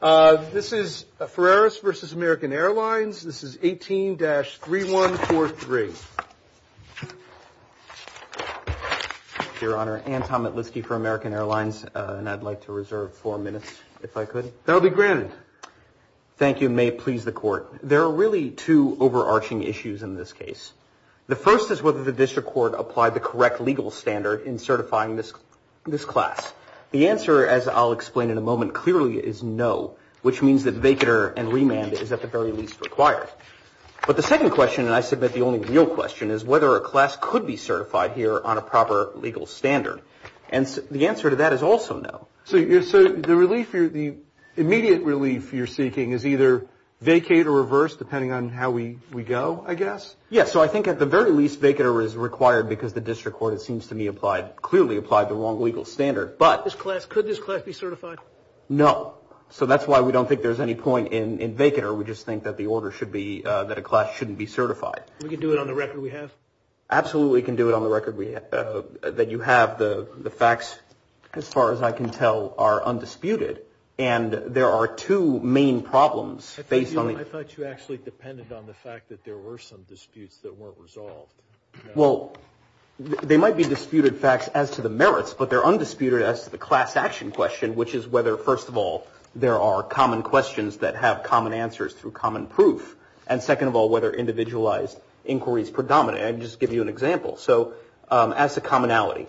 This is Ferreras v. American Airlines. This is 18-3143. Your Honor, Anthony Litsky for American Airlines, and I'd like to reserve four minutes if I could. That'll be granted. Thank you. May it please the Court. There are really two overarching issues in this case. The first is whether the district court applied the correct legal standard in certifying this class. The answer, as I'll explain in a moment, clearly is no, which means that vacater and remand is at the very least required. But the second question, and I submit the only real question, is whether a class could be certified here on a proper legal standard. And the answer to that is also no. So the immediate relief you're seeking is either vacate or reverse, depending on how we go, I guess? Yes. So I think at the very least, vacater is required because the district court, it seems to me, clearly applied the wrong legal standard. But could this class be certified? No. So that's why we don't think there's any point in vacater. We just think that the order should be that a class shouldn't be certified. We can do it on the record we have? Absolutely can do it on the record that you have. The facts, as far as I can tell, are undisputed. And there are two main problems based on it. I thought you actually depended on the fact that there were some disputes that weren't resolved. Well, they might be disputed facts as to the merits, but they're undisputed as to the class action question, which is whether, first of all, there are common questions that have common answers through common proof. And second of all, whether individualized inquiries predominate. I just give you an example. So as a commonality,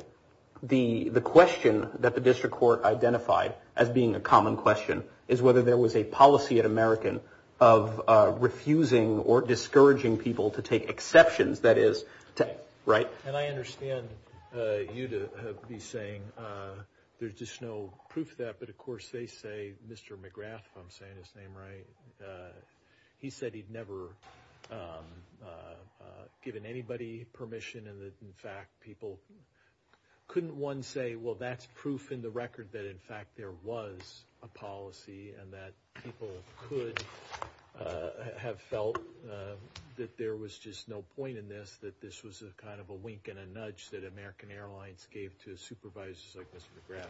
the question that the district court identified as being a common question is whether there was a policy of refusing or discouraging people to take exceptions. That is right. And I understand you to be saying there's just no proof of that. But of course, they say, Mr. McGrath, if I'm saying his name right. He said he'd never given anybody permission. And in fact, people couldn't one say, well, that's proof in the record that, in fact, there was a policy and that people could have felt that there was just no point in this, that this was a kind of a wink and a nudge that American Airlines gave to supervisors like Mr.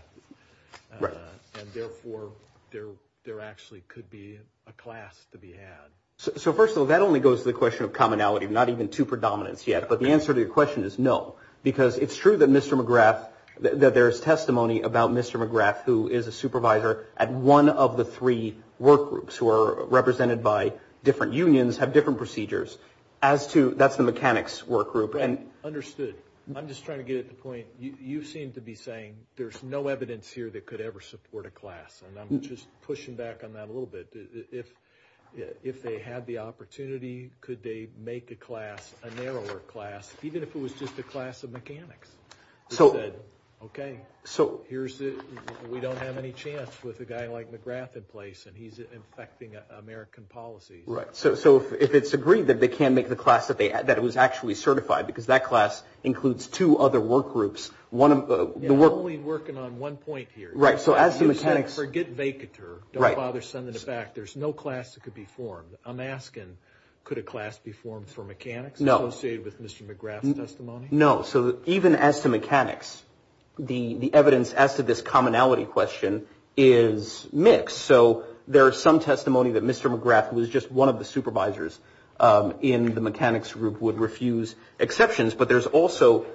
McGrath. And therefore, there there actually could be a class to be had. So first of all, that only goes to the question of commonality, not even to predominance yet. But the answer to your question is no, because it's true that Mr. McGrath, that there is testimony about Mr. McGrath, who is a supervisor at one of the three work groups who are represented by different unions, have different procedures as to that's the mechanics work group. And understood. I'm just trying to get at the point. You seem to be saying there's no evidence here that could ever support a class. And I'm just pushing back on that a little bit. If if they had the opportunity, could they make the class a narrower class, even if it was just a class of mechanics? So, OK, so here's it. We don't have any chance with a guy like McGrath in place and he's affecting American policy. Right. So so if it's agreed that they can make the class that they had, that it was actually certified because that class includes two other work groups. One of the we're only working on one point here. Right. So as the mechanics forget vacator, don't bother sending it back. There's no class that could be formed. I'm asking, could a class be formed for mechanics? No. No. So even as to mechanics, the evidence as to this commonality question is mixed. So there are some testimony that Mr. McGrath was just one of the supervisors in the mechanics group would refuse exceptions. But there's also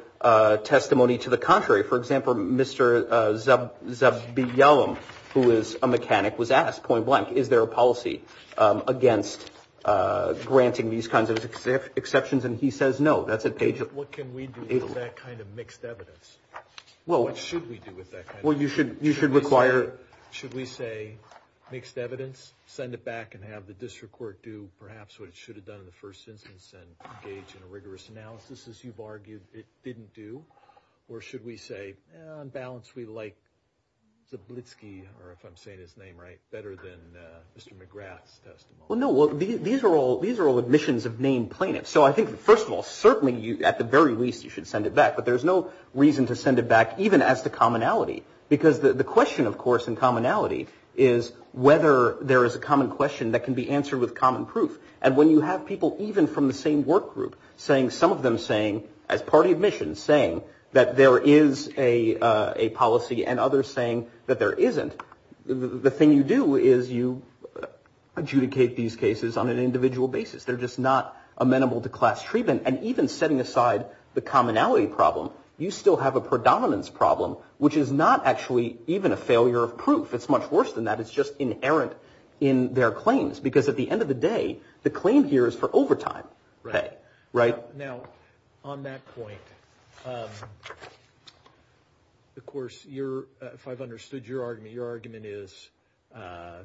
testimony to the contrary. For example, Mr. Zub Zubby Yellam, who is a mechanic, was asked point blank. Is there a policy against granting these kinds of exceptions? And he says, no, that's a page. What can we do with that kind of mixed evidence? Well, what should we do with that? Well, you should you should require. Should we say mixed evidence, send it back and have the district court do perhaps what it should have done in the first instance? And engage in a rigorous analysis, as you've argued it didn't do. Or should we say on balance, we like the Blitzky or if I'm saying his name right, better than Mr. McGrath's testimony? Well, no, these are all these are all admissions of named plaintiffs. So I think, first of all, certainly at the very least, you should send it back. But there's no reason to send it back even as the commonality, because the question, of course, in commonality is whether there is a common question that can be answered with common proof. And when you have people even from the same work group saying some of them saying as party admissions, saying that there is a policy and others saying that there isn't the thing you do is you adjudicate these cases on an individual basis. They're just not amenable to class treatment. And even setting aside the commonality problem, you still have a predominance problem, which is not actually even a failure of proof. It's much worse than that. It's just inherent in their claims, because at the end of the day, the claim here is for overtime. Right now on that point. Of course, you're if I've understood your argument, your argument is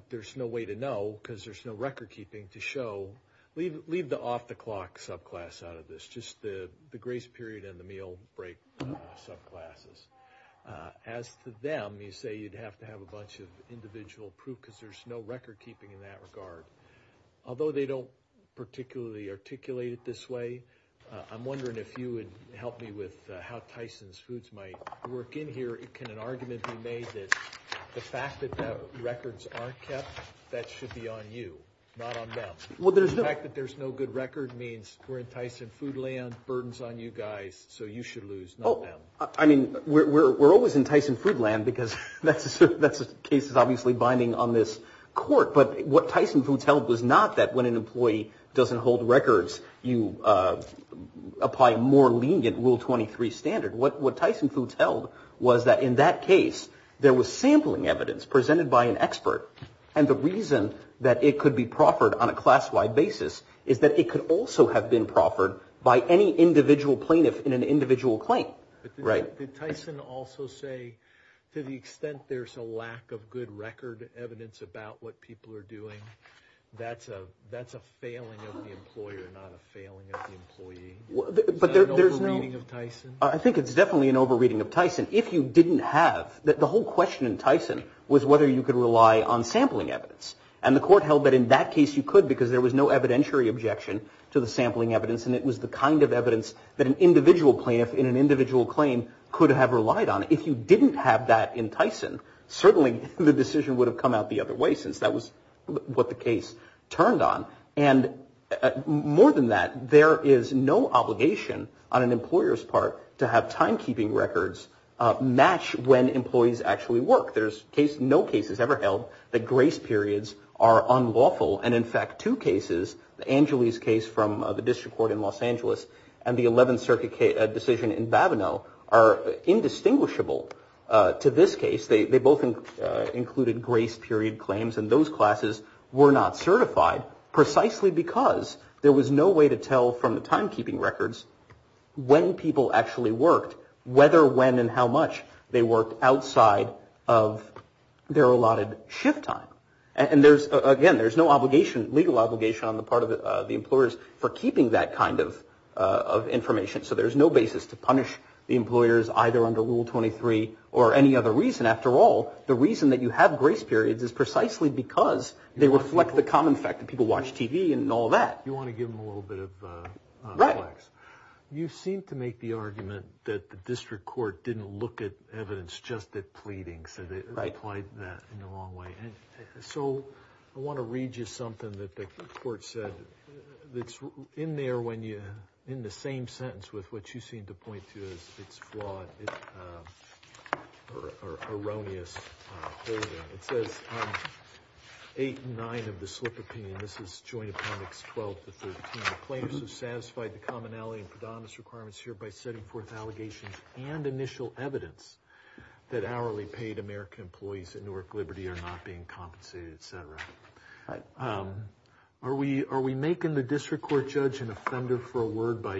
there's no way to know because there's no record keeping to show. Leave leave the off the clock subclass out of this. Just the grace period and the meal break subclasses. As to them, you say you'd have to have a bunch of individual proof because there's no record keeping in that regard, although they don't particularly articulate it this way. I'm wondering if you would help me with how Tyson's foods might work in here. It can an argument be made that the fact that that records are kept, that should be on you, not on them. Well, there's the fact that there's no good record means we're enticing food land burdens on you guys. So you should lose. I mean, we're always enticing food land because that's that's a case is obviously binding on this court. But what Tyson foods held was not that when an employee doesn't hold records, you apply more lenient rule 23 standard. What what Tyson foods held was that in that case there was sampling evidence presented by an expert. And the reason that it could be proffered on a class wide basis is that it could also have been proffered by any individual plaintiff in an individual claim. Right. Tyson also say to the extent there's a lack of good record evidence about what people are doing. That's a that's a failing of the employer, not a failing of the employee. But there's no reading of Tyson. I think it's definitely an over reading of Tyson. If you didn't have that, the whole question in Tyson was whether you could rely on sampling evidence. And the court held that in that case you could because there was no evidentiary objection to the sampling evidence. And it was the kind of evidence that an individual plaintiff in an individual claim could have relied on. If you didn't have that in Tyson, certainly the decision would have come out the other way since that was what the case turned on. And more than that, there is no obligation on an employer's part to have timekeeping records match when employees actually work. There's no cases ever held that grace periods are unlawful. And in fact, two cases, Anjali's case from the district court in Los Angeles and the 11th Circuit decision in Babineau are indistinguishable. To this case, they both included grace period claims. And those classes were not certified precisely because there was no way to tell from the timekeeping records when people actually worked, whether when and how much they worked outside of their allotted shift time. And again, there's no legal obligation on the part of the employers for keeping that kind of information. So there's no basis to punish the employers either under Rule 23 or any other reason. After all, the reason that you have grace periods is precisely because they reflect the common fact that people watch TV and all that. You want to give them a little bit of flex. Right. You seem to make the argument that the district court didn't look at evidence, just that pleading. So they applied that in the wrong way. And so I want to read you something that the court said that's in there when you're in the same sentence with what you seem to point to is it's flawed or erroneous. It says eight, nine of the slip of pain. This is joint appendix 12 to 13. The plaintiffs have satisfied the commonality and predominance requirements here by setting forth allegations and initial evidence that hourly paid American employees at Newark Liberty are not being compensated, etc. Are we making the district court judge an offender for a word by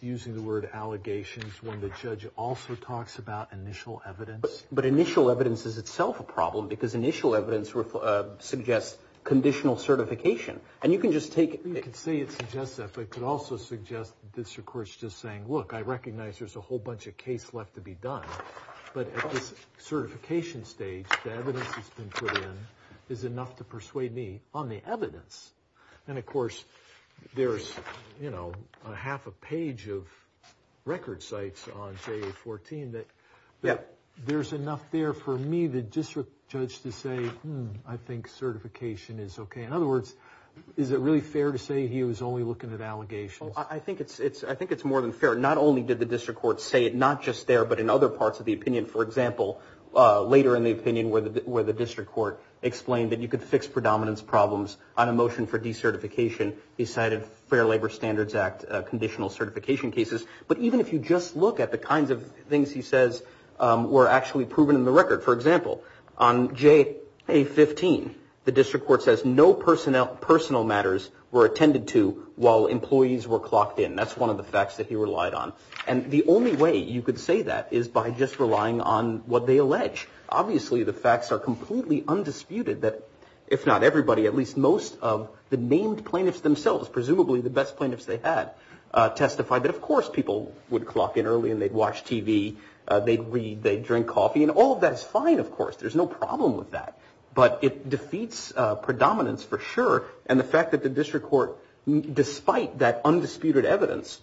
using the word allegations when the judge also talks about initial evidence? But initial evidence is itself a problem because initial evidence suggests conditional certification. And you can just take it. You could say it's just that. But it could also suggest this. Of course, just saying, look, I recognize there's a whole bunch of case left to be done. But at this certification stage, the evidence has been put in is enough to persuade me on the evidence. And, of course, there's, you know, a half a page of record sites on 14 that there's enough there for me, the district judge to say, I think certification is OK. In other words, is it really fair to say he was only looking at allegations? I think it's it's I think it's more than fair. Not only did the district court say it, not just there, but in other parts of the opinion. For example, later in the opinion where the where the district court explained that you could fix predominance problems on a motion for decertification, he cited Fair Labor Standards Act conditional certification cases. But even if you just look at the kinds of things he says were actually proven in the record, for example, on J.A. 15, the district court says no personnel personal matters were attended to while employees were clocked in. That's one of the facts that he relied on. And the only way you could say that is by just relying on what they allege. Obviously, the facts are completely undisputed that if not everybody, at least most of the named plaintiffs themselves, presumably the best plaintiffs they had testified that, of course, people would clock in early and they'd watch TV. They'd read. They'd drink coffee. And all of that is fine. Of course, there's no problem with that. But it defeats predominance for sure. And the fact that the district court, despite that undisputed evidence,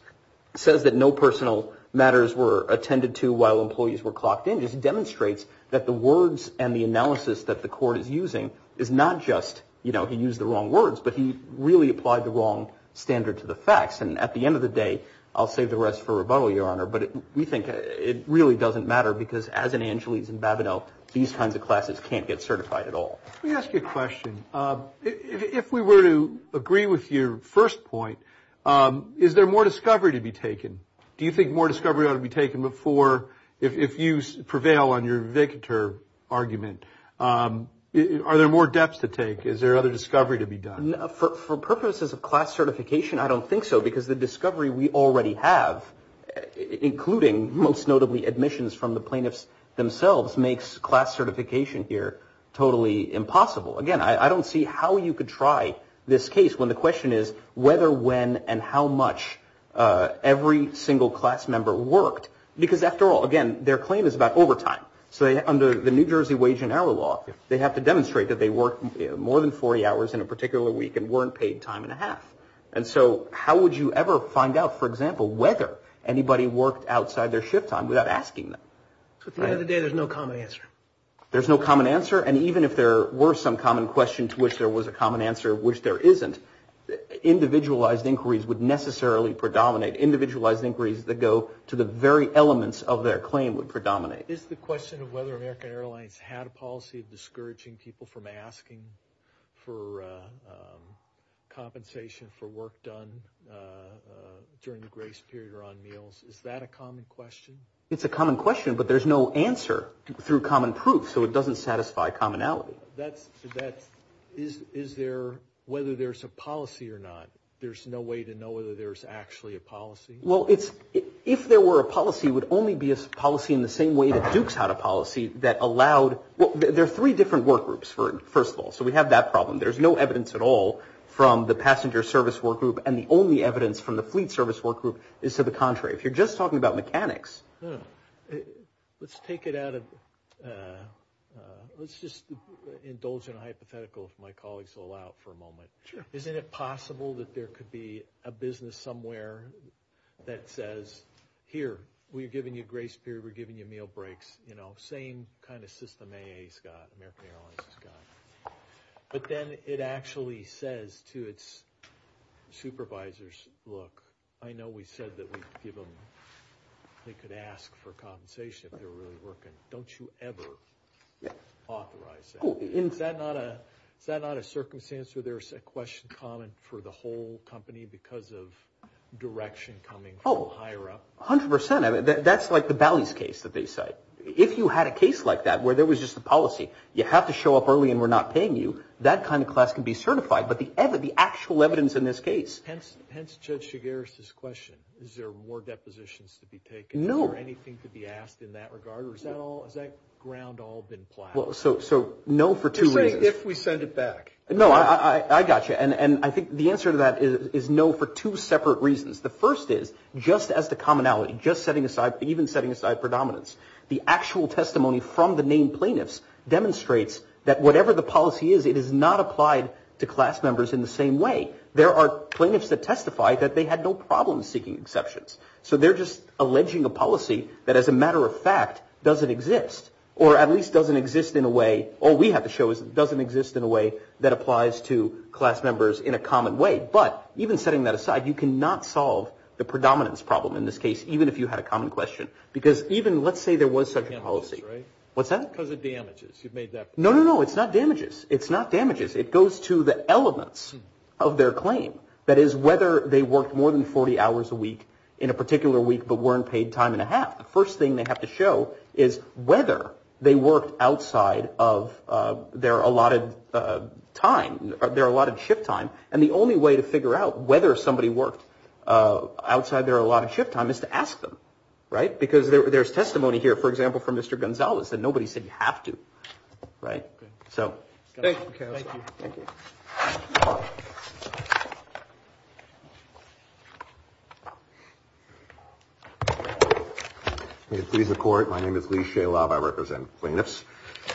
says that no personal matters were attended to while employees were clocked in, just demonstrates that the words and the analysis that the court is using is not just, you know, he used the wrong words, but he really applied the wrong standard to the facts. And at the end of the day, I'll save the rest for rebuttal, Your Honor. But we think it really doesn't matter because as in Angeles and Babineau, these kinds of classes can't get certified at all. Let me ask you a question. If we were to agree with your first point, is there more discovery to be taken? Do you think more discovery ought to be taken before if you prevail on your victor argument? Are there more depths to take? Is there other discovery to be done? For purposes of class certification, I don't think so, because the discovery we already have, including most notably admissions from the plaintiffs themselves, makes class certification here totally impossible. Again, I don't see how you could try this case when the question is whether, when and how much every single class member worked. Because after all, again, their claim is about overtime. So under the New Jersey wage and hour law, they have to demonstrate that they worked more than 40 hours in a particular week and weren't paid time and a half. And so how would you ever find out, for example, whether anybody worked outside their shift time without asking them? At the end of the day, there's no common answer. There's no common answer. And even if there were some common question to which there was a common answer, which there isn't, individualized inquiries would necessarily predominate. Individualized inquiries that go to the very elements of their claim would predominate. Is the question of whether American Airlines had a policy of discouraging people from asking for compensation for work done during the grace period or on meals, is that a common question? It's a common question, but there's no answer through common proof. So it doesn't satisfy commonality. That's that. Is is there whether there's a policy or not? There's no way to know whether there's actually a policy. Well, it's if there were a policy would only be a policy in the same way that Duke's had a policy that allowed. Well, there are three different work groups for first of all. So we have that problem. There's no evidence at all from the passenger service work group. And the only evidence from the fleet service work group is to the contrary. If you're just talking about mechanics, let's take it out of. Let's just indulge in a hypothetical. My colleagues all out for a moment. Sure. Isn't it possible that there could be a business somewhere that says, here, we're giving you grace period. We're giving you meal breaks. You know, same kind of system. A Scott, American Airlines, Scott. But then it actually says to its supervisors, look, I know we said that we give them. They could ask for compensation if they're really working. Don't you ever authorize. Is that not a is that not a circumstance where there's a question common for the whole company because of direction coming from higher up? One hundred percent of it. That's like the Bally's case that they say. If you had a case like that where there was just a policy, you have to show up early and we're not paying you. That kind of class can be certified. But the ever the actual evidence in this case. Hence, Judge Chigueras this question. Is there more depositions to be taken? No. Anything to be asked in that regard? Or is that all? Is that ground all been plowed? So. So no. For two reasons. If we send it back. No, I got you. And I think the answer to that is no. For two separate reasons. The first is just as the commonality, just setting aside even setting aside predominance. The actual testimony from the main plaintiffs demonstrates that whatever the policy is, it is not applied to class members in the same way. There are plaintiffs that testify that they had no problem seeking exceptions. So they're just alleging a policy that, as a matter of fact, doesn't exist or at least doesn't exist in a way. All we have to show is it doesn't exist in a way that applies to class members in a common way. But even setting that aside, you cannot solve the predominance problem in this case, even if you had a common question. Because even let's say there was such a policy. What's that? Because of damages. You've made that no, no, no. It's not damages. It's not damages. It goes to the elements of their claim. That is, whether they worked more than 40 hours a week in a particular week, but weren't paid time and a half. The first thing they have to show is whether they worked outside of their allotted time. There are a lot of shift time. And the only way to figure out whether somebody worked outside their allotted shift time is to ask them. Right. Because there's testimony here, for example, from Mr. Gonzalez that nobody said you have to. Right. So thank you. Please, the court. My name is Lee Shalab. I represent plaintiffs.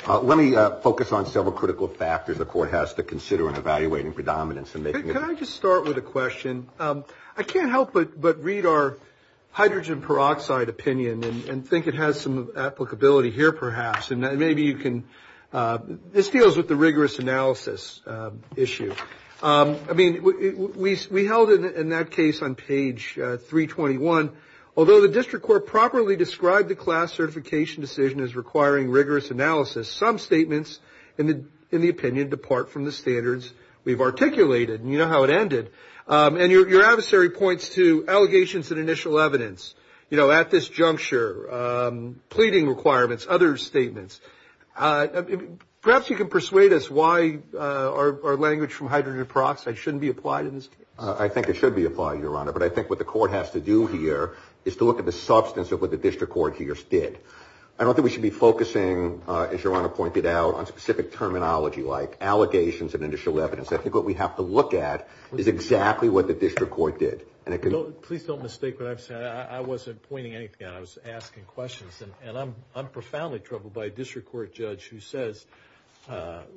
Let me focus on several critical factors the court has to consider in evaluating predominance. And can I just start with a question? I can't help but read our hydrogen peroxide opinion and think it has some applicability here, perhaps. And maybe you can. This deals with the rigorous analysis issue. I mean, we held it in that case on page 321. Although the district court properly described the class certification decision as requiring rigorous analysis, some statements in the opinion depart from the standards we've articulated. You know how it ended. And your adversary points to allegations and initial evidence, you know, at this juncture, pleading requirements, other statements. Perhaps you can persuade us why our language from hydrogen peroxide shouldn't be applied in this case. I think it should be applied, Your Honor. But I think what the court has to do here is to look at the substance of what the district court here did. I don't think we should be focusing, as Your Honor pointed out, on specific terminology like allegations and initial evidence. I think what we have to look at is exactly what the district court did. Please don't mistake what I've said. I wasn't pointing anything out. I was asking questions. And I'm profoundly troubled by a district court judge who says,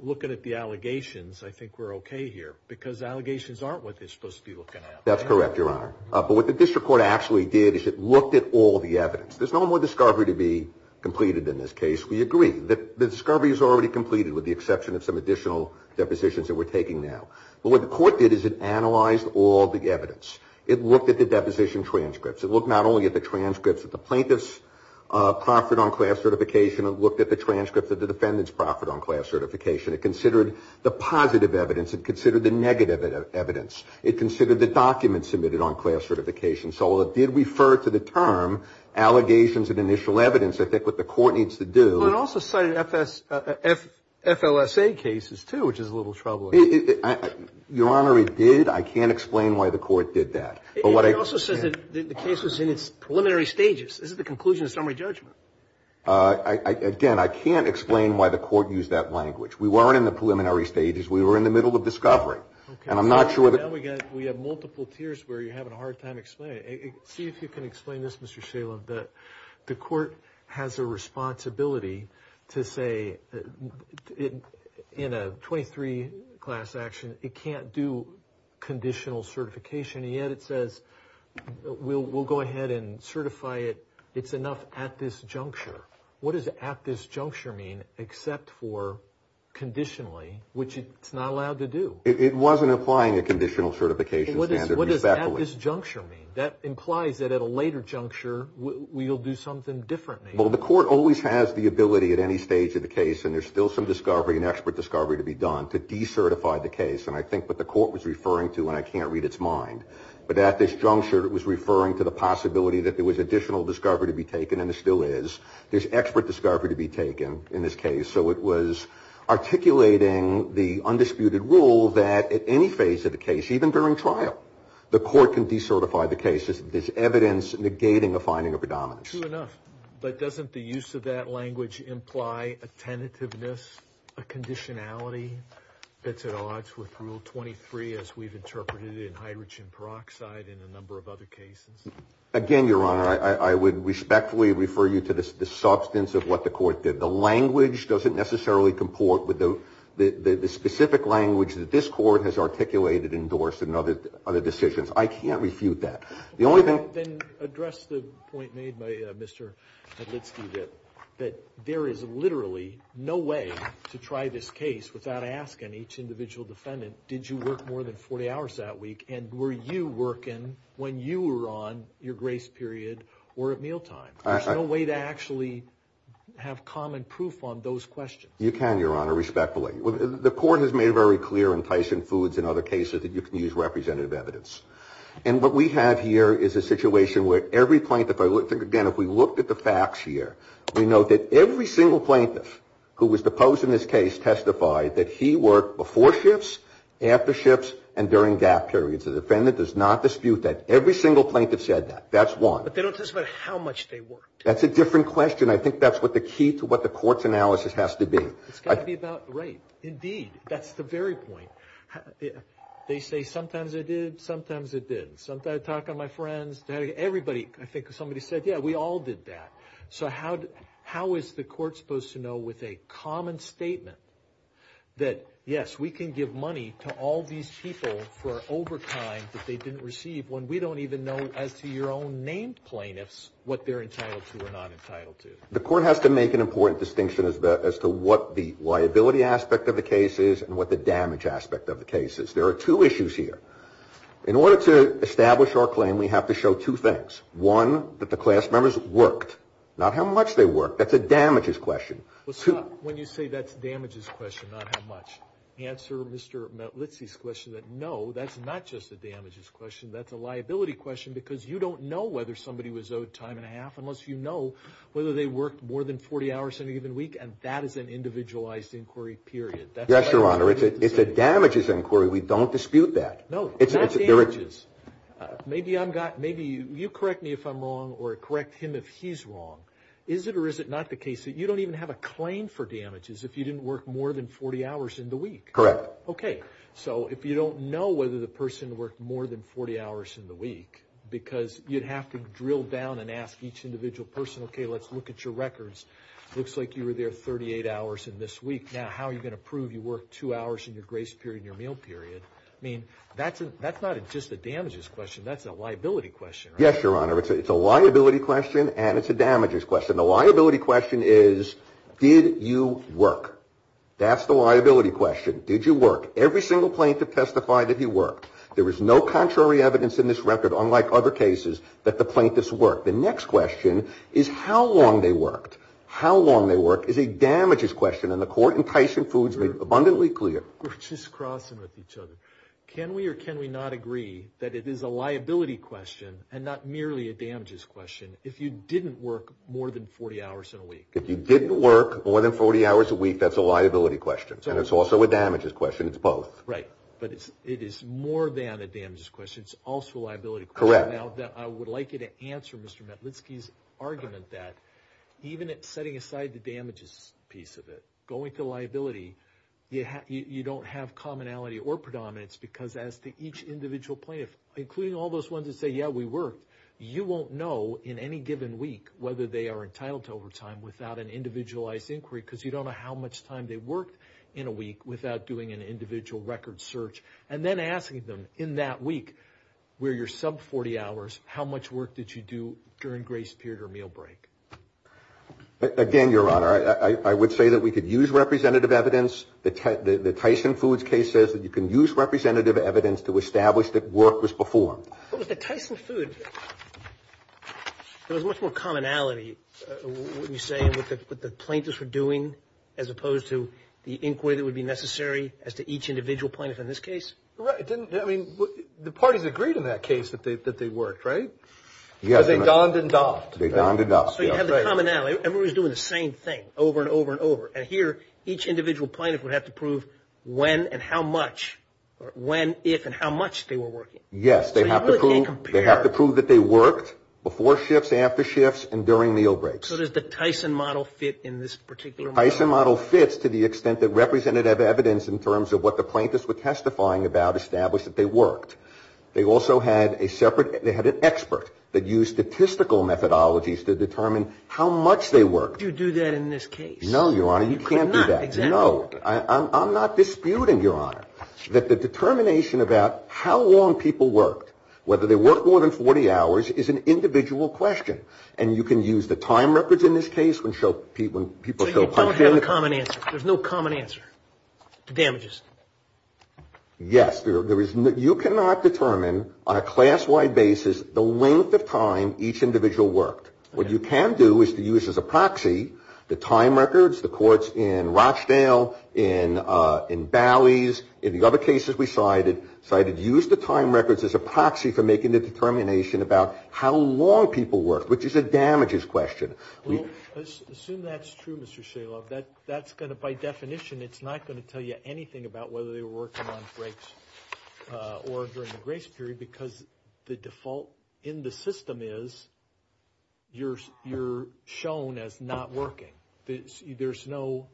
looking at the allegations, I think we're OK here. Because allegations aren't what they're supposed to be looking at. That's correct, Your Honor. But what the district court actually did is it looked at all the evidence. There's no more discovery to be completed in this case. We agree. The discovery is already completed with the exception of some additional depositions that we're taking now. But what the court did is it analyzed all the evidence. It looked at the deposition transcripts. It looked not only at the transcripts that the plaintiffs proffered on class certification. It looked at the transcripts that the defendants proffered on class certification. It considered the positive evidence. It considered the negative evidence. It considered the documents submitted on class certification. So while it did refer to the term allegations and initial evidence, I think what the court needs to do – Well, it also cited FLSA cases, too, which is a little troubling. Your Honor, it did. I can't explain why the court did that. It also says that the case was in its preliminary stages. This is the conclusion of summary judgment. Again, I can't explain why the court used that language. We weren't in the preliminary stages. We were in the middle of discovery. And I'm not sure that – Now we have multiple tiers where you're having a hard time explaining it. See if you can explain this, Mr. Shalem. The court has a responsibility to say in a 23 class action it can't do conditional certification. And yet it says we'll go ahead and certify it. It's enough at this juncture. What does at this juncture mean except for conditionally, which it's not allowed to do? It wasn't applying a conditional certification standard respectfully. What does at this juncture mean? That implies that at a later juncture we'll do something differently. Well, the court always has the ability at any stage of the case, and there's still some discovery, an expert discovery to be done, to decertify the case. And I think what the court was referring to, and I can't read its mind, but at this juncture it was referring to the possibility that there was additional discovery to be taken, and there still is. There's expert discovery to be taken in this case. So it was articulating the undisputed rule that at any phase of the case, even during trial, the court can decertify the case. There's evidence negating a finding of predominance. True enough, but doesn't the use of that language imply a tentativeness, a conditionality, that's at odds with Rule 23 as we've interpreted it in hydrogen peroxide and a number of other cases? Again, Your Honor, I would respectfully refer you to the substance of what the court did. The language doesn't necessarily comport with the specific language that this court has articulated and endorsed in other decisions. I can't refute that. Then address the point made by Mr. Litsky that there is literally no way to try this case without asking each individual defendant, did you work more than 40 hours that week, and were you working when you were on your grace period or at mealtime? There's no way to actually have common proof on those questions. You can, Your Honor, respectfully. The court has made very clear in Tyson Foods and other cases that you can use representative evidence. And what we have here is a situation where every plaintiff, again, if we looked at the facts here, we note that every single plaintiff who was deposed in this case testified that he worked before shifts, after shifts, and during gap periods. The defendant does not dispute that. Every single plaintiff said that. That's one. But they don't testify how much they worked. That's a different question. I think that's what the key to what the court's analysis has to be. It's got to be about, right, indeed, that's the very point. They say sometimes I did, sometimes I didn't. Sometimes I talk to my friends. Everybody, I think somebody said, yeah, we all did that. So how is the court supposed to know with a common statement that, yes, we can give money to all these people for overtime that they didn't receive when we don't even know as to your own named plaintiffs what they're entitled to or not entitled to? The court has to make an important distinction as to what the liability aspect of the case is and what the damage aspect of the case is. There are two issues here. In order to establish our claim, we have to show two things. One, that the class members worked, not how much they worked. That's a damages question. When you say that's a damages question, not how much, answer Mr. Litzy's question that, no, that's not just a damages question. That's a liability question because you don't know whether somebody was owed time and a half unless you know whether they worked more than 40 hours in a given week, and that is an individualized inquiry, period. Yes, Your Honor. It's a damages inquiry. We don't dispute that. No, not damages. Maybe you correct me if I'm wrong or correct him if he's wrong. Is it or is it not the case that you don't even have a claim for damages if you didn't work more than 40 hours in the week? Correct. Okay. So if you don't know whether the person worked more than 40 hours in the week because you'd have to drill down and ask each individual person, okay, let's look at your records. It looks like you were there 38 hours in this week. Now, how are you going to prove you worked two hours in your grace period and your meal period? I mean, that's not just a damages question. That's a liability question. Yes, Your Honor. It's a liability question and it's a damages question. The liability question is did you work? That's the liability question. Did you work? Every single plaintiff testified that he worked. There is no contrary evidence in this record, unlike other cases, that the plaintiffs worked. The next question is how long they worked. How long they worked is a damages question, and the court in Tyson Foods made abundantly clear. We're just crossing with each other. Can we or can we not agree that it is a liability question and not merely a damages question if you didn't work more than 40 hours in a week? If you didn't work more than 40 hours a week, that's a liability question, and it's also a damages question. It's both. Right. But it is more than a damages question. It's also a liability question. Correct. Now, I would like you to answer Mr. Matlitsky's argument that even setting aside the damages piece of it, going to liability, you don't have commonality or predominance because as to each individual plaintiff, including all those ones that say, yeah, we worked, you won't know in any given week whether they are entitled to overtime without an individualized inquiry because you don't know how much time they worked in a week without doing an individual record search and then asking them in that week where you're sub 40 hours, how much work did you do during grace period or meal break? Again, Your Honor, I would say that we could use representative evidence. The Tyson Foods case says that you can use representative evidence to establish that work was performed. What was the Tyson Food? There was much more commonality, would you say, with the plaintiffs were doing as opposed to the inquiry that would be necessary as to each individual plaintiff in this case? Right. I mean, the parties agreed in that case that they worked, right? Yes. Because they donned and doffed. They donned and doffed. So you have the commonality. Everyone was doing the same thing over and over and over. And here, each individual plaintiff would have to prove when and how much, when, if, and how much they were working. Yes. They have to prove that they worked before shifts, after shifts, and during meal breaks. So does the Tyson model fit in this particular model? The Tyson model fits to the extent that representative evidence in terms of what the plaintiffs were testifying about established that they worked. They also had a separate, they had an expert that used statistical methodologies to determine how much they worked. Could you do that in this case? No, Your Honor, you can't do that. No. I'm not disputing, Your Honor, that the determination about how long people worked, whether they worked more than 40 hours, is an individual question. And you can use the time records in this case when people show up. So you don't have a common answer. There's no common answer to damages. Yes. You cannot determine on a class-wide basis the length of time each individual worked. What you can do is to use as a proxy the time records, the courts in Rochdale, in Bally's, in the other cases we cited, cited use the time records as a proxy for making the determination about how long people worked, which is a damages question. Well, assume that's true, Mr. Shalob. That's going to, by definition, it's not going to tell you anything about whether they were working on breaks or during the grace period because the default in the system is you're shown as not working. There's no,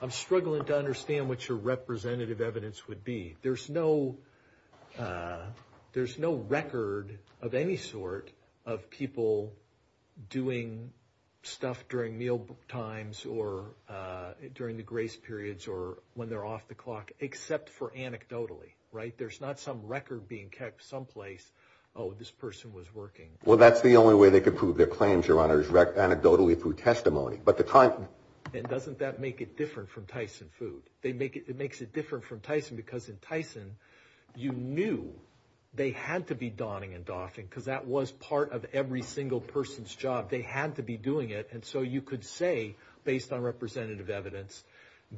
I'm struggling to understand what your representative evidence would be. There's no record of any sort of people doing stuff during meal times or during the grace periods or when they're off the clock, except for anecdotally, right? There's not some record being kept someplace, oh, this person was working. Well, that's the only way they could prove their claims, Your Honor, is anecdotally through testimony. And doesn't that make it different from Tyson food? It makes it different from Tyson because in Tyson you knew they had to be donning and doffing because that was part of every single person's job. They had to be doing it. And so you could say, based on representative evidence,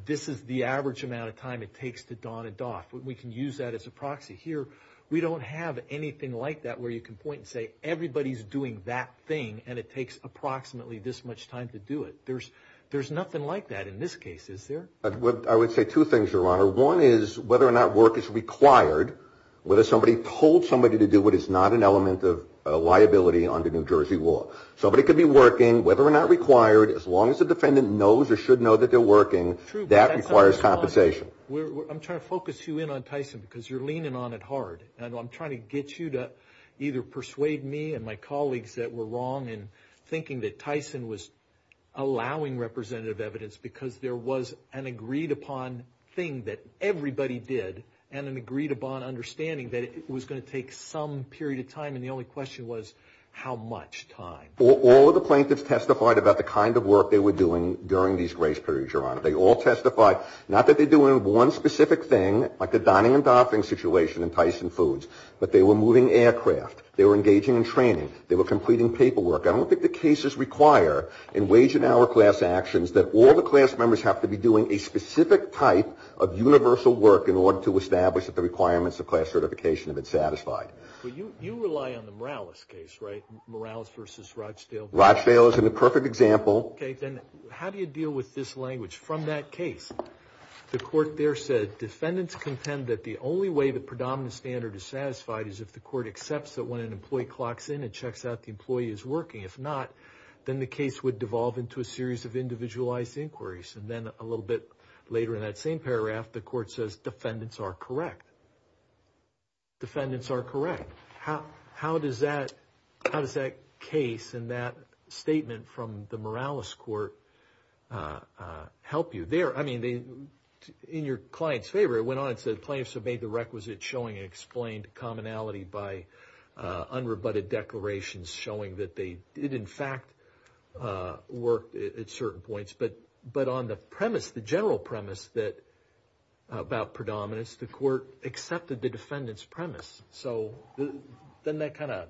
this is the average amount of time it takes to don and doff. We can use that as a proxy here. We don't have anything like that where you can point and say everybody's doing that thing and it takes approximately this much time to do it. There's nothing like that in this case, is there? I would say two things, Your Honor. One is whether or not work is required, whether somebody told somebody to do what is not an element of liability under New Jersey law. Somebody could be working, whether or not required, as long as the defendant knows or should know that they're working, that requires compensation. I'm trying to focus you in on Tyson because you're leaning on it hard. I'm trying to get you to either persuade me and my colleagues that we're wrong in thinking that Tyson was allowing representative evidence because there was an agreed upon thing that everybody did and an agreed upon understanding that it was going to take some period of time and the only question was how much time. All of the plaintiffs testified about the kind of work they were doing during these grace periods, Your Honor. They all testified. Not that they're doing one specific thing, like the Donning and Doffing situation in Tyson Foods, but they were moving aircraft. They were engaging in training. They were completing paperwork. I don't think the cases require in wage and hour class actions that all the class members have to be doing a specific type of universal work in order to establish that the requirements of class certification have been satisfied. But you rely on the Morales case, right? Morales versus Rochdale? Rochdale is a perfect example. Okay, then how do you deal with this language from that case? The court there said defendants contend that the only way the predominant standard is satisfied is if the court accepts that when an employee clocks in and checks out the employee is working. If not, then the case would devolve into a series of individualized inquiries. And then a little bit later in that same paragraph, the court says defendants are correct. Defendants are correct. How does that case and that statement from the Morales court help you? I mean, in your client's favor, it went on and said plaintiffs have made the requisite showing and explained commonality by unrebutted declarations showing that they did, in fact, work at certain points. But on the premise, the general premise about predominance, the court accepted the defendant's premise. So doesn't that kind of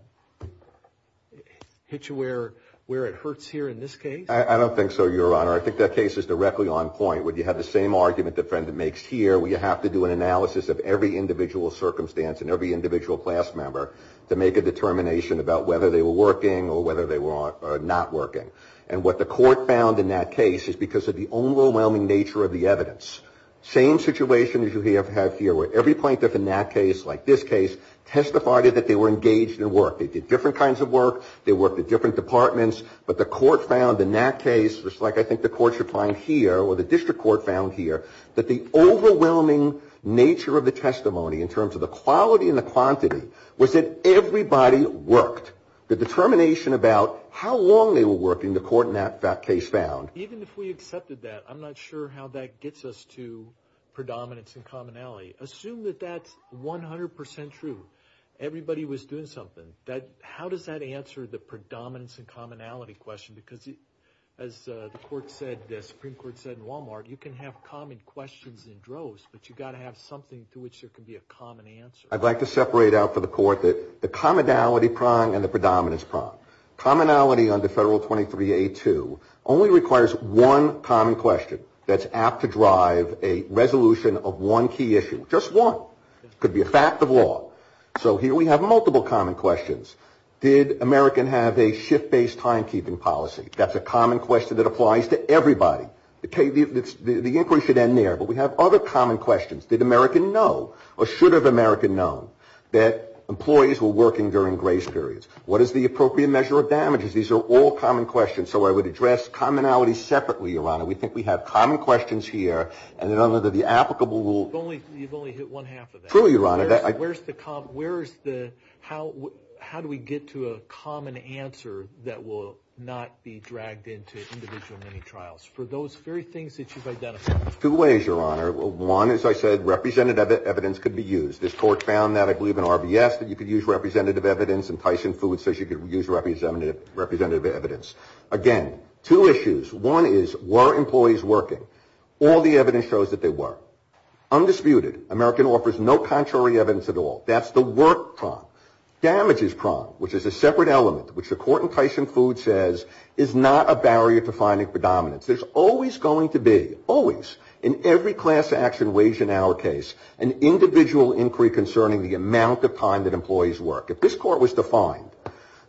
hit you where it hurts here in this case? I don't think so, Your Honor. I think that case is directly on point where you have the same argument the defendant makes here where you have to do an analysis of every individual circumstance and every individual class member to make a determination about whether they were working or whether they were not working. And what the court found in that case is because of the overwhelming nature of the evidence. Same situation as you have here where every plaintiff in that case, like this case, testified that they were engaged in work. They did different kinds of work. They worked at different departments. But the court found in that case, just like I think the court should find here or the district court found here, that the overwhelming nature of the testimony in terms of the quality and the quantity was that everybody worked. The determination about how long they were working, the court in that case found. Even if we accepted that, I'm not sure how that gets us to predominance and commonality. Assume that that's 100% true. Everybody was doing something. How does that answer the predominance and commonality question? Because as the Supreme Court said in Walmart, you can have common questions in droves, but you've got to have something to which there can be a common answer. I'd like to separate out for the court the commonality prong and the predominance prong. Commonality under Federal 23A2 only requires one common question that's apt to drive a resolution of one key issue, just one. It could be a fact of law. So here we have multiple common questions. Did American have a shift-based timekeeping policy? That's a common question that applies to everybody. The inquiry should end there, but we have other common questions. Did American know or should have American known that employees were working during grace periods? What is the appropriate measure of damages? These are all common questions. So I would address commonality separately, Your Honor. We think we have common questions here, and then under the applicable rule. You've only hit one-half of that. True, Your Honor. Where is the – how do we get to a common answer that will not be dragged into individual mini-trials? For those very things that you've identified. Two ways, Your Honor. One, as I said, representative evidence could be used. This court found that, I believe in RBS, that you could use representative evidence, and Tyson Foods says you could use representative evidence. Again, two issues. One is, were employees working? All the evidence shows that they were. Undisputed, American offers no contrary evidence at all. That's the work prong. Damages prong, which is a separate element, which the court in Tyson Foods says is not a barrier to finding predominance. There's always going to be, always, in every class action wage and hour case, an individual inquiry concerning the amount of time that employees work. If this court was to find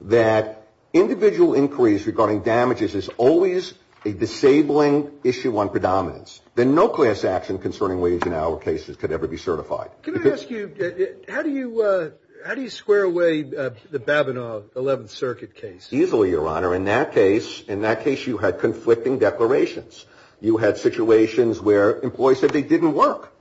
that individual inquiries regarding damages is always a disabling issue on predominance, then no class action concerning wage and hour cases could ever be certified. Can I ask you, how do you square away the Babinow 11th Circuit case? Easily, Your Honor. In that case, you had conflicting declarations. You had situations where employees said they didn't work,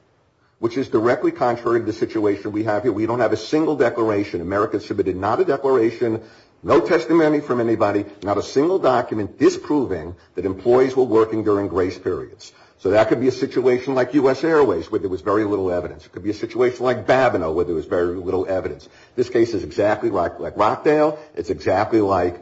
which is directly contrary to the situation we have here. We don't have a single declaration. America submitted not a declaration, no testimony from anybody, not a single document disproving that employees were working during grace periods. So that could be a situation like U.S. Airways, where there was very little evidence. It could be a situation like Babinow, where there was very little evidence. This case is exactly like Rockdale. It's exactly like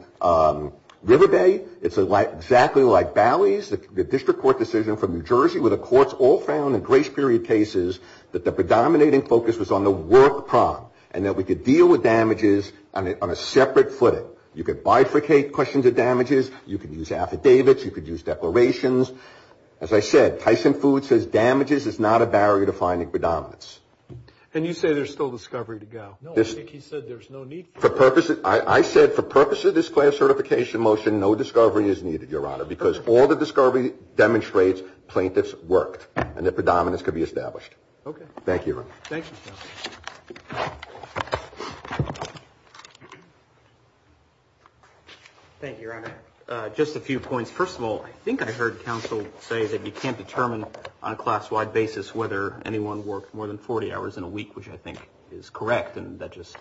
River Bay. It's exactly like Bally's, the district court decision from New Jersey, where the courts all found in grace period cases that the predominating focus was on the work problem and that we could deal with damages on a separate footing. You could bifurcate questions of damages. You could use affidavits. You could use declarations. As I said, Tyson Foods says damages is not a barrier to finding predominance. And you say there's still discovery to go. No, I think he said there's no need for it. I said for purpose of this class certification motion, no discovery is needed, Your Honor, because all the discovery demonstrates plaintiffs worked and that predominance could be established. Okay. Thank you. Thank you, Your Honor. Just a few points. First of all, I think I heard counsel say that you can't determine on a class-wide basis whether anyone worked more than 40 hours in a week, which I think is correct, and that just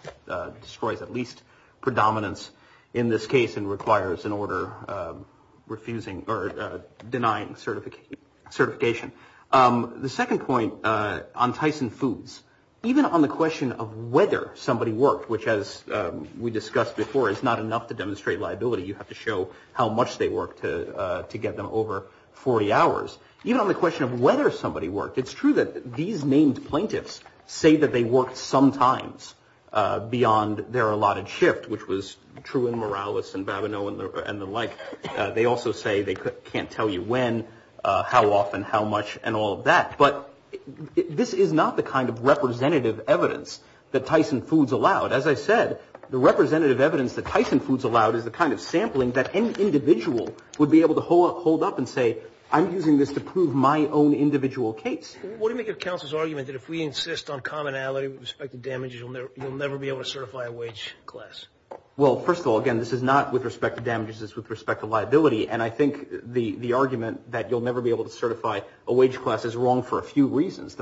destroys at least predominance in this case and requires an order refusing or denying certification. The second point on Tyson Foods, even on the question of whether somebody worked, which as we discussed before is not enough to demonstrate liability. You have to show how much they worked to get them over 40 hours. Even on the question of whether somebody worked, it's true that these named plaintiffs say that they worked sometimes beyond their allotted shift, which was true in Morales and Babineau and the like. They also say they can't tell you when, how often, how much, and all of that. But this is not the kind of representative evidence that Tyson Foods allowed. As I said, the representative evidence that Tyson Foods allowed is the kind of sampling that an individual would be able to hold up and say, I'm using this to prove my own individual case. What do you make of counsel's argument that if we insist on commonality with respect to damages, you'll never be able to certify a wage class? Well, first of all, again, this is not with respect to damages. This is with respect to liability. And I think the argument that you'll never be able to certify a wage class is wrong for a few reasons.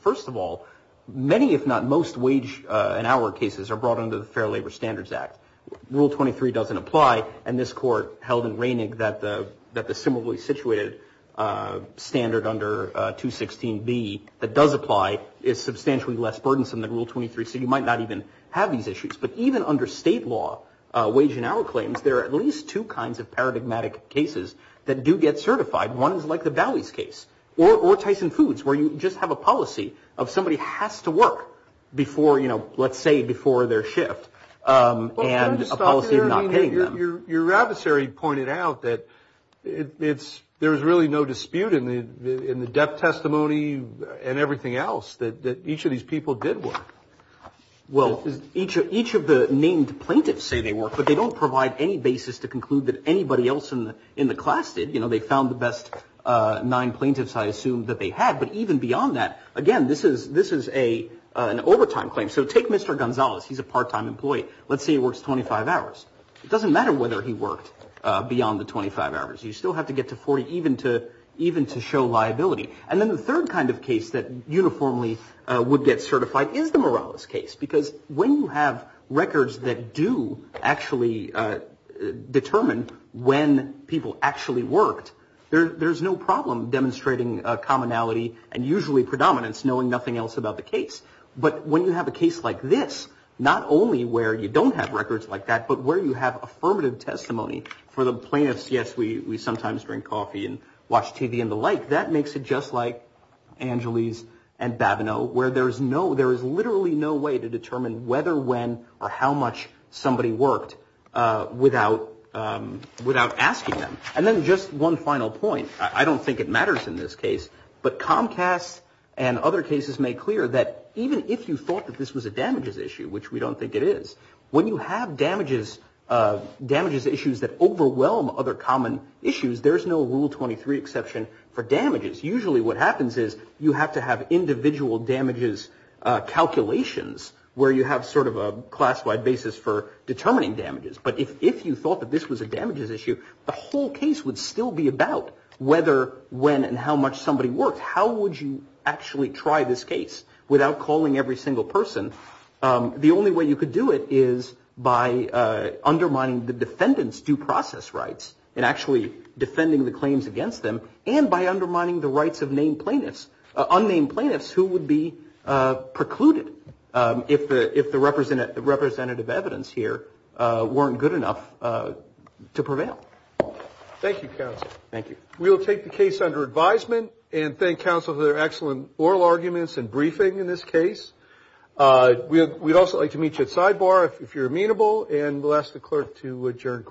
First of all, many if not most wage and hour cases are brought under the Fair Labor Standards Act. Rule 23 doesn't apply. And this court held in Reining that the similarly situated standard under 216B that does apply is substantially less burdensome than Rule 23. So you might not even have these issues. But even under state law, wage and hour claims, there are at least two kinds of paradigmatic cases that do get certified. One is like the Bowies case or Tyson Foods, where you just have a policy of somebody has to work before, you know, let's say before their shift. And a policy of not paying them. Your adversary pointed out that there is really no dispute in the death testimony and everything else that each of these people did work. Well, each of the named plaintiffs say they work, but they don't provide any basis to conclude that anybody else in the class did. You know, they found the best nine plaintiffs, I assume, that they had. But even beyond that, again, this is an overtime claim. So take Mr. Gonzalez. He's a part-time employee. Let's say he works 25 hours. It doesn't matter whether he worked beyond the 25 hours. You still have to get to 40 even to show liability. And then the third kind of case that uniformly would get certified is the Morales case. Because when you have records that do actually determine when people actually worked, there's no problem demonstrating commonality and usually predominance knowing nothing else about the case. But when you have a case like this, not only where you don't have records like that, but where you have affirmative testimony for the plaintiffs. Yes, we sometimes drink coffee and watch TV and the like. That makes it just like Angeles and Babineau, where there is no there is literally no way to determine whether, when or how much somebody worked without without asking them. And then just one final point. I don't think it matters in this case. But Comcast and other cases make clear that even if you thought that this was a damages issue, which we don't think it is, when you have damages, damages issues that overwhelm other common issues, there is no rule 23 exception for damages. Usually what happens is you have to have individual damages calculations where you have sort of a classified basis for determining damages. But if you thought that this was a damages issue, the whole case would still be about whether, when and how much somebody worked. How would you actually try this case without calling every single person? The only way you could do it is by undermining the defendant's due process rights and actually defending the claims against them. And by undermining the rights of named plaintiffs, unnamed plaintiffs who would be precluded if the representative evidence here weren't good enough to prevail. Thank you, counsel. Thank you. We'll take the case under advisement and thank counsel for their excellent oral arguments and briefing in this case. We'd also like to meet you at sidebar if you're amenable, and we'll ask the clerk to adjourn.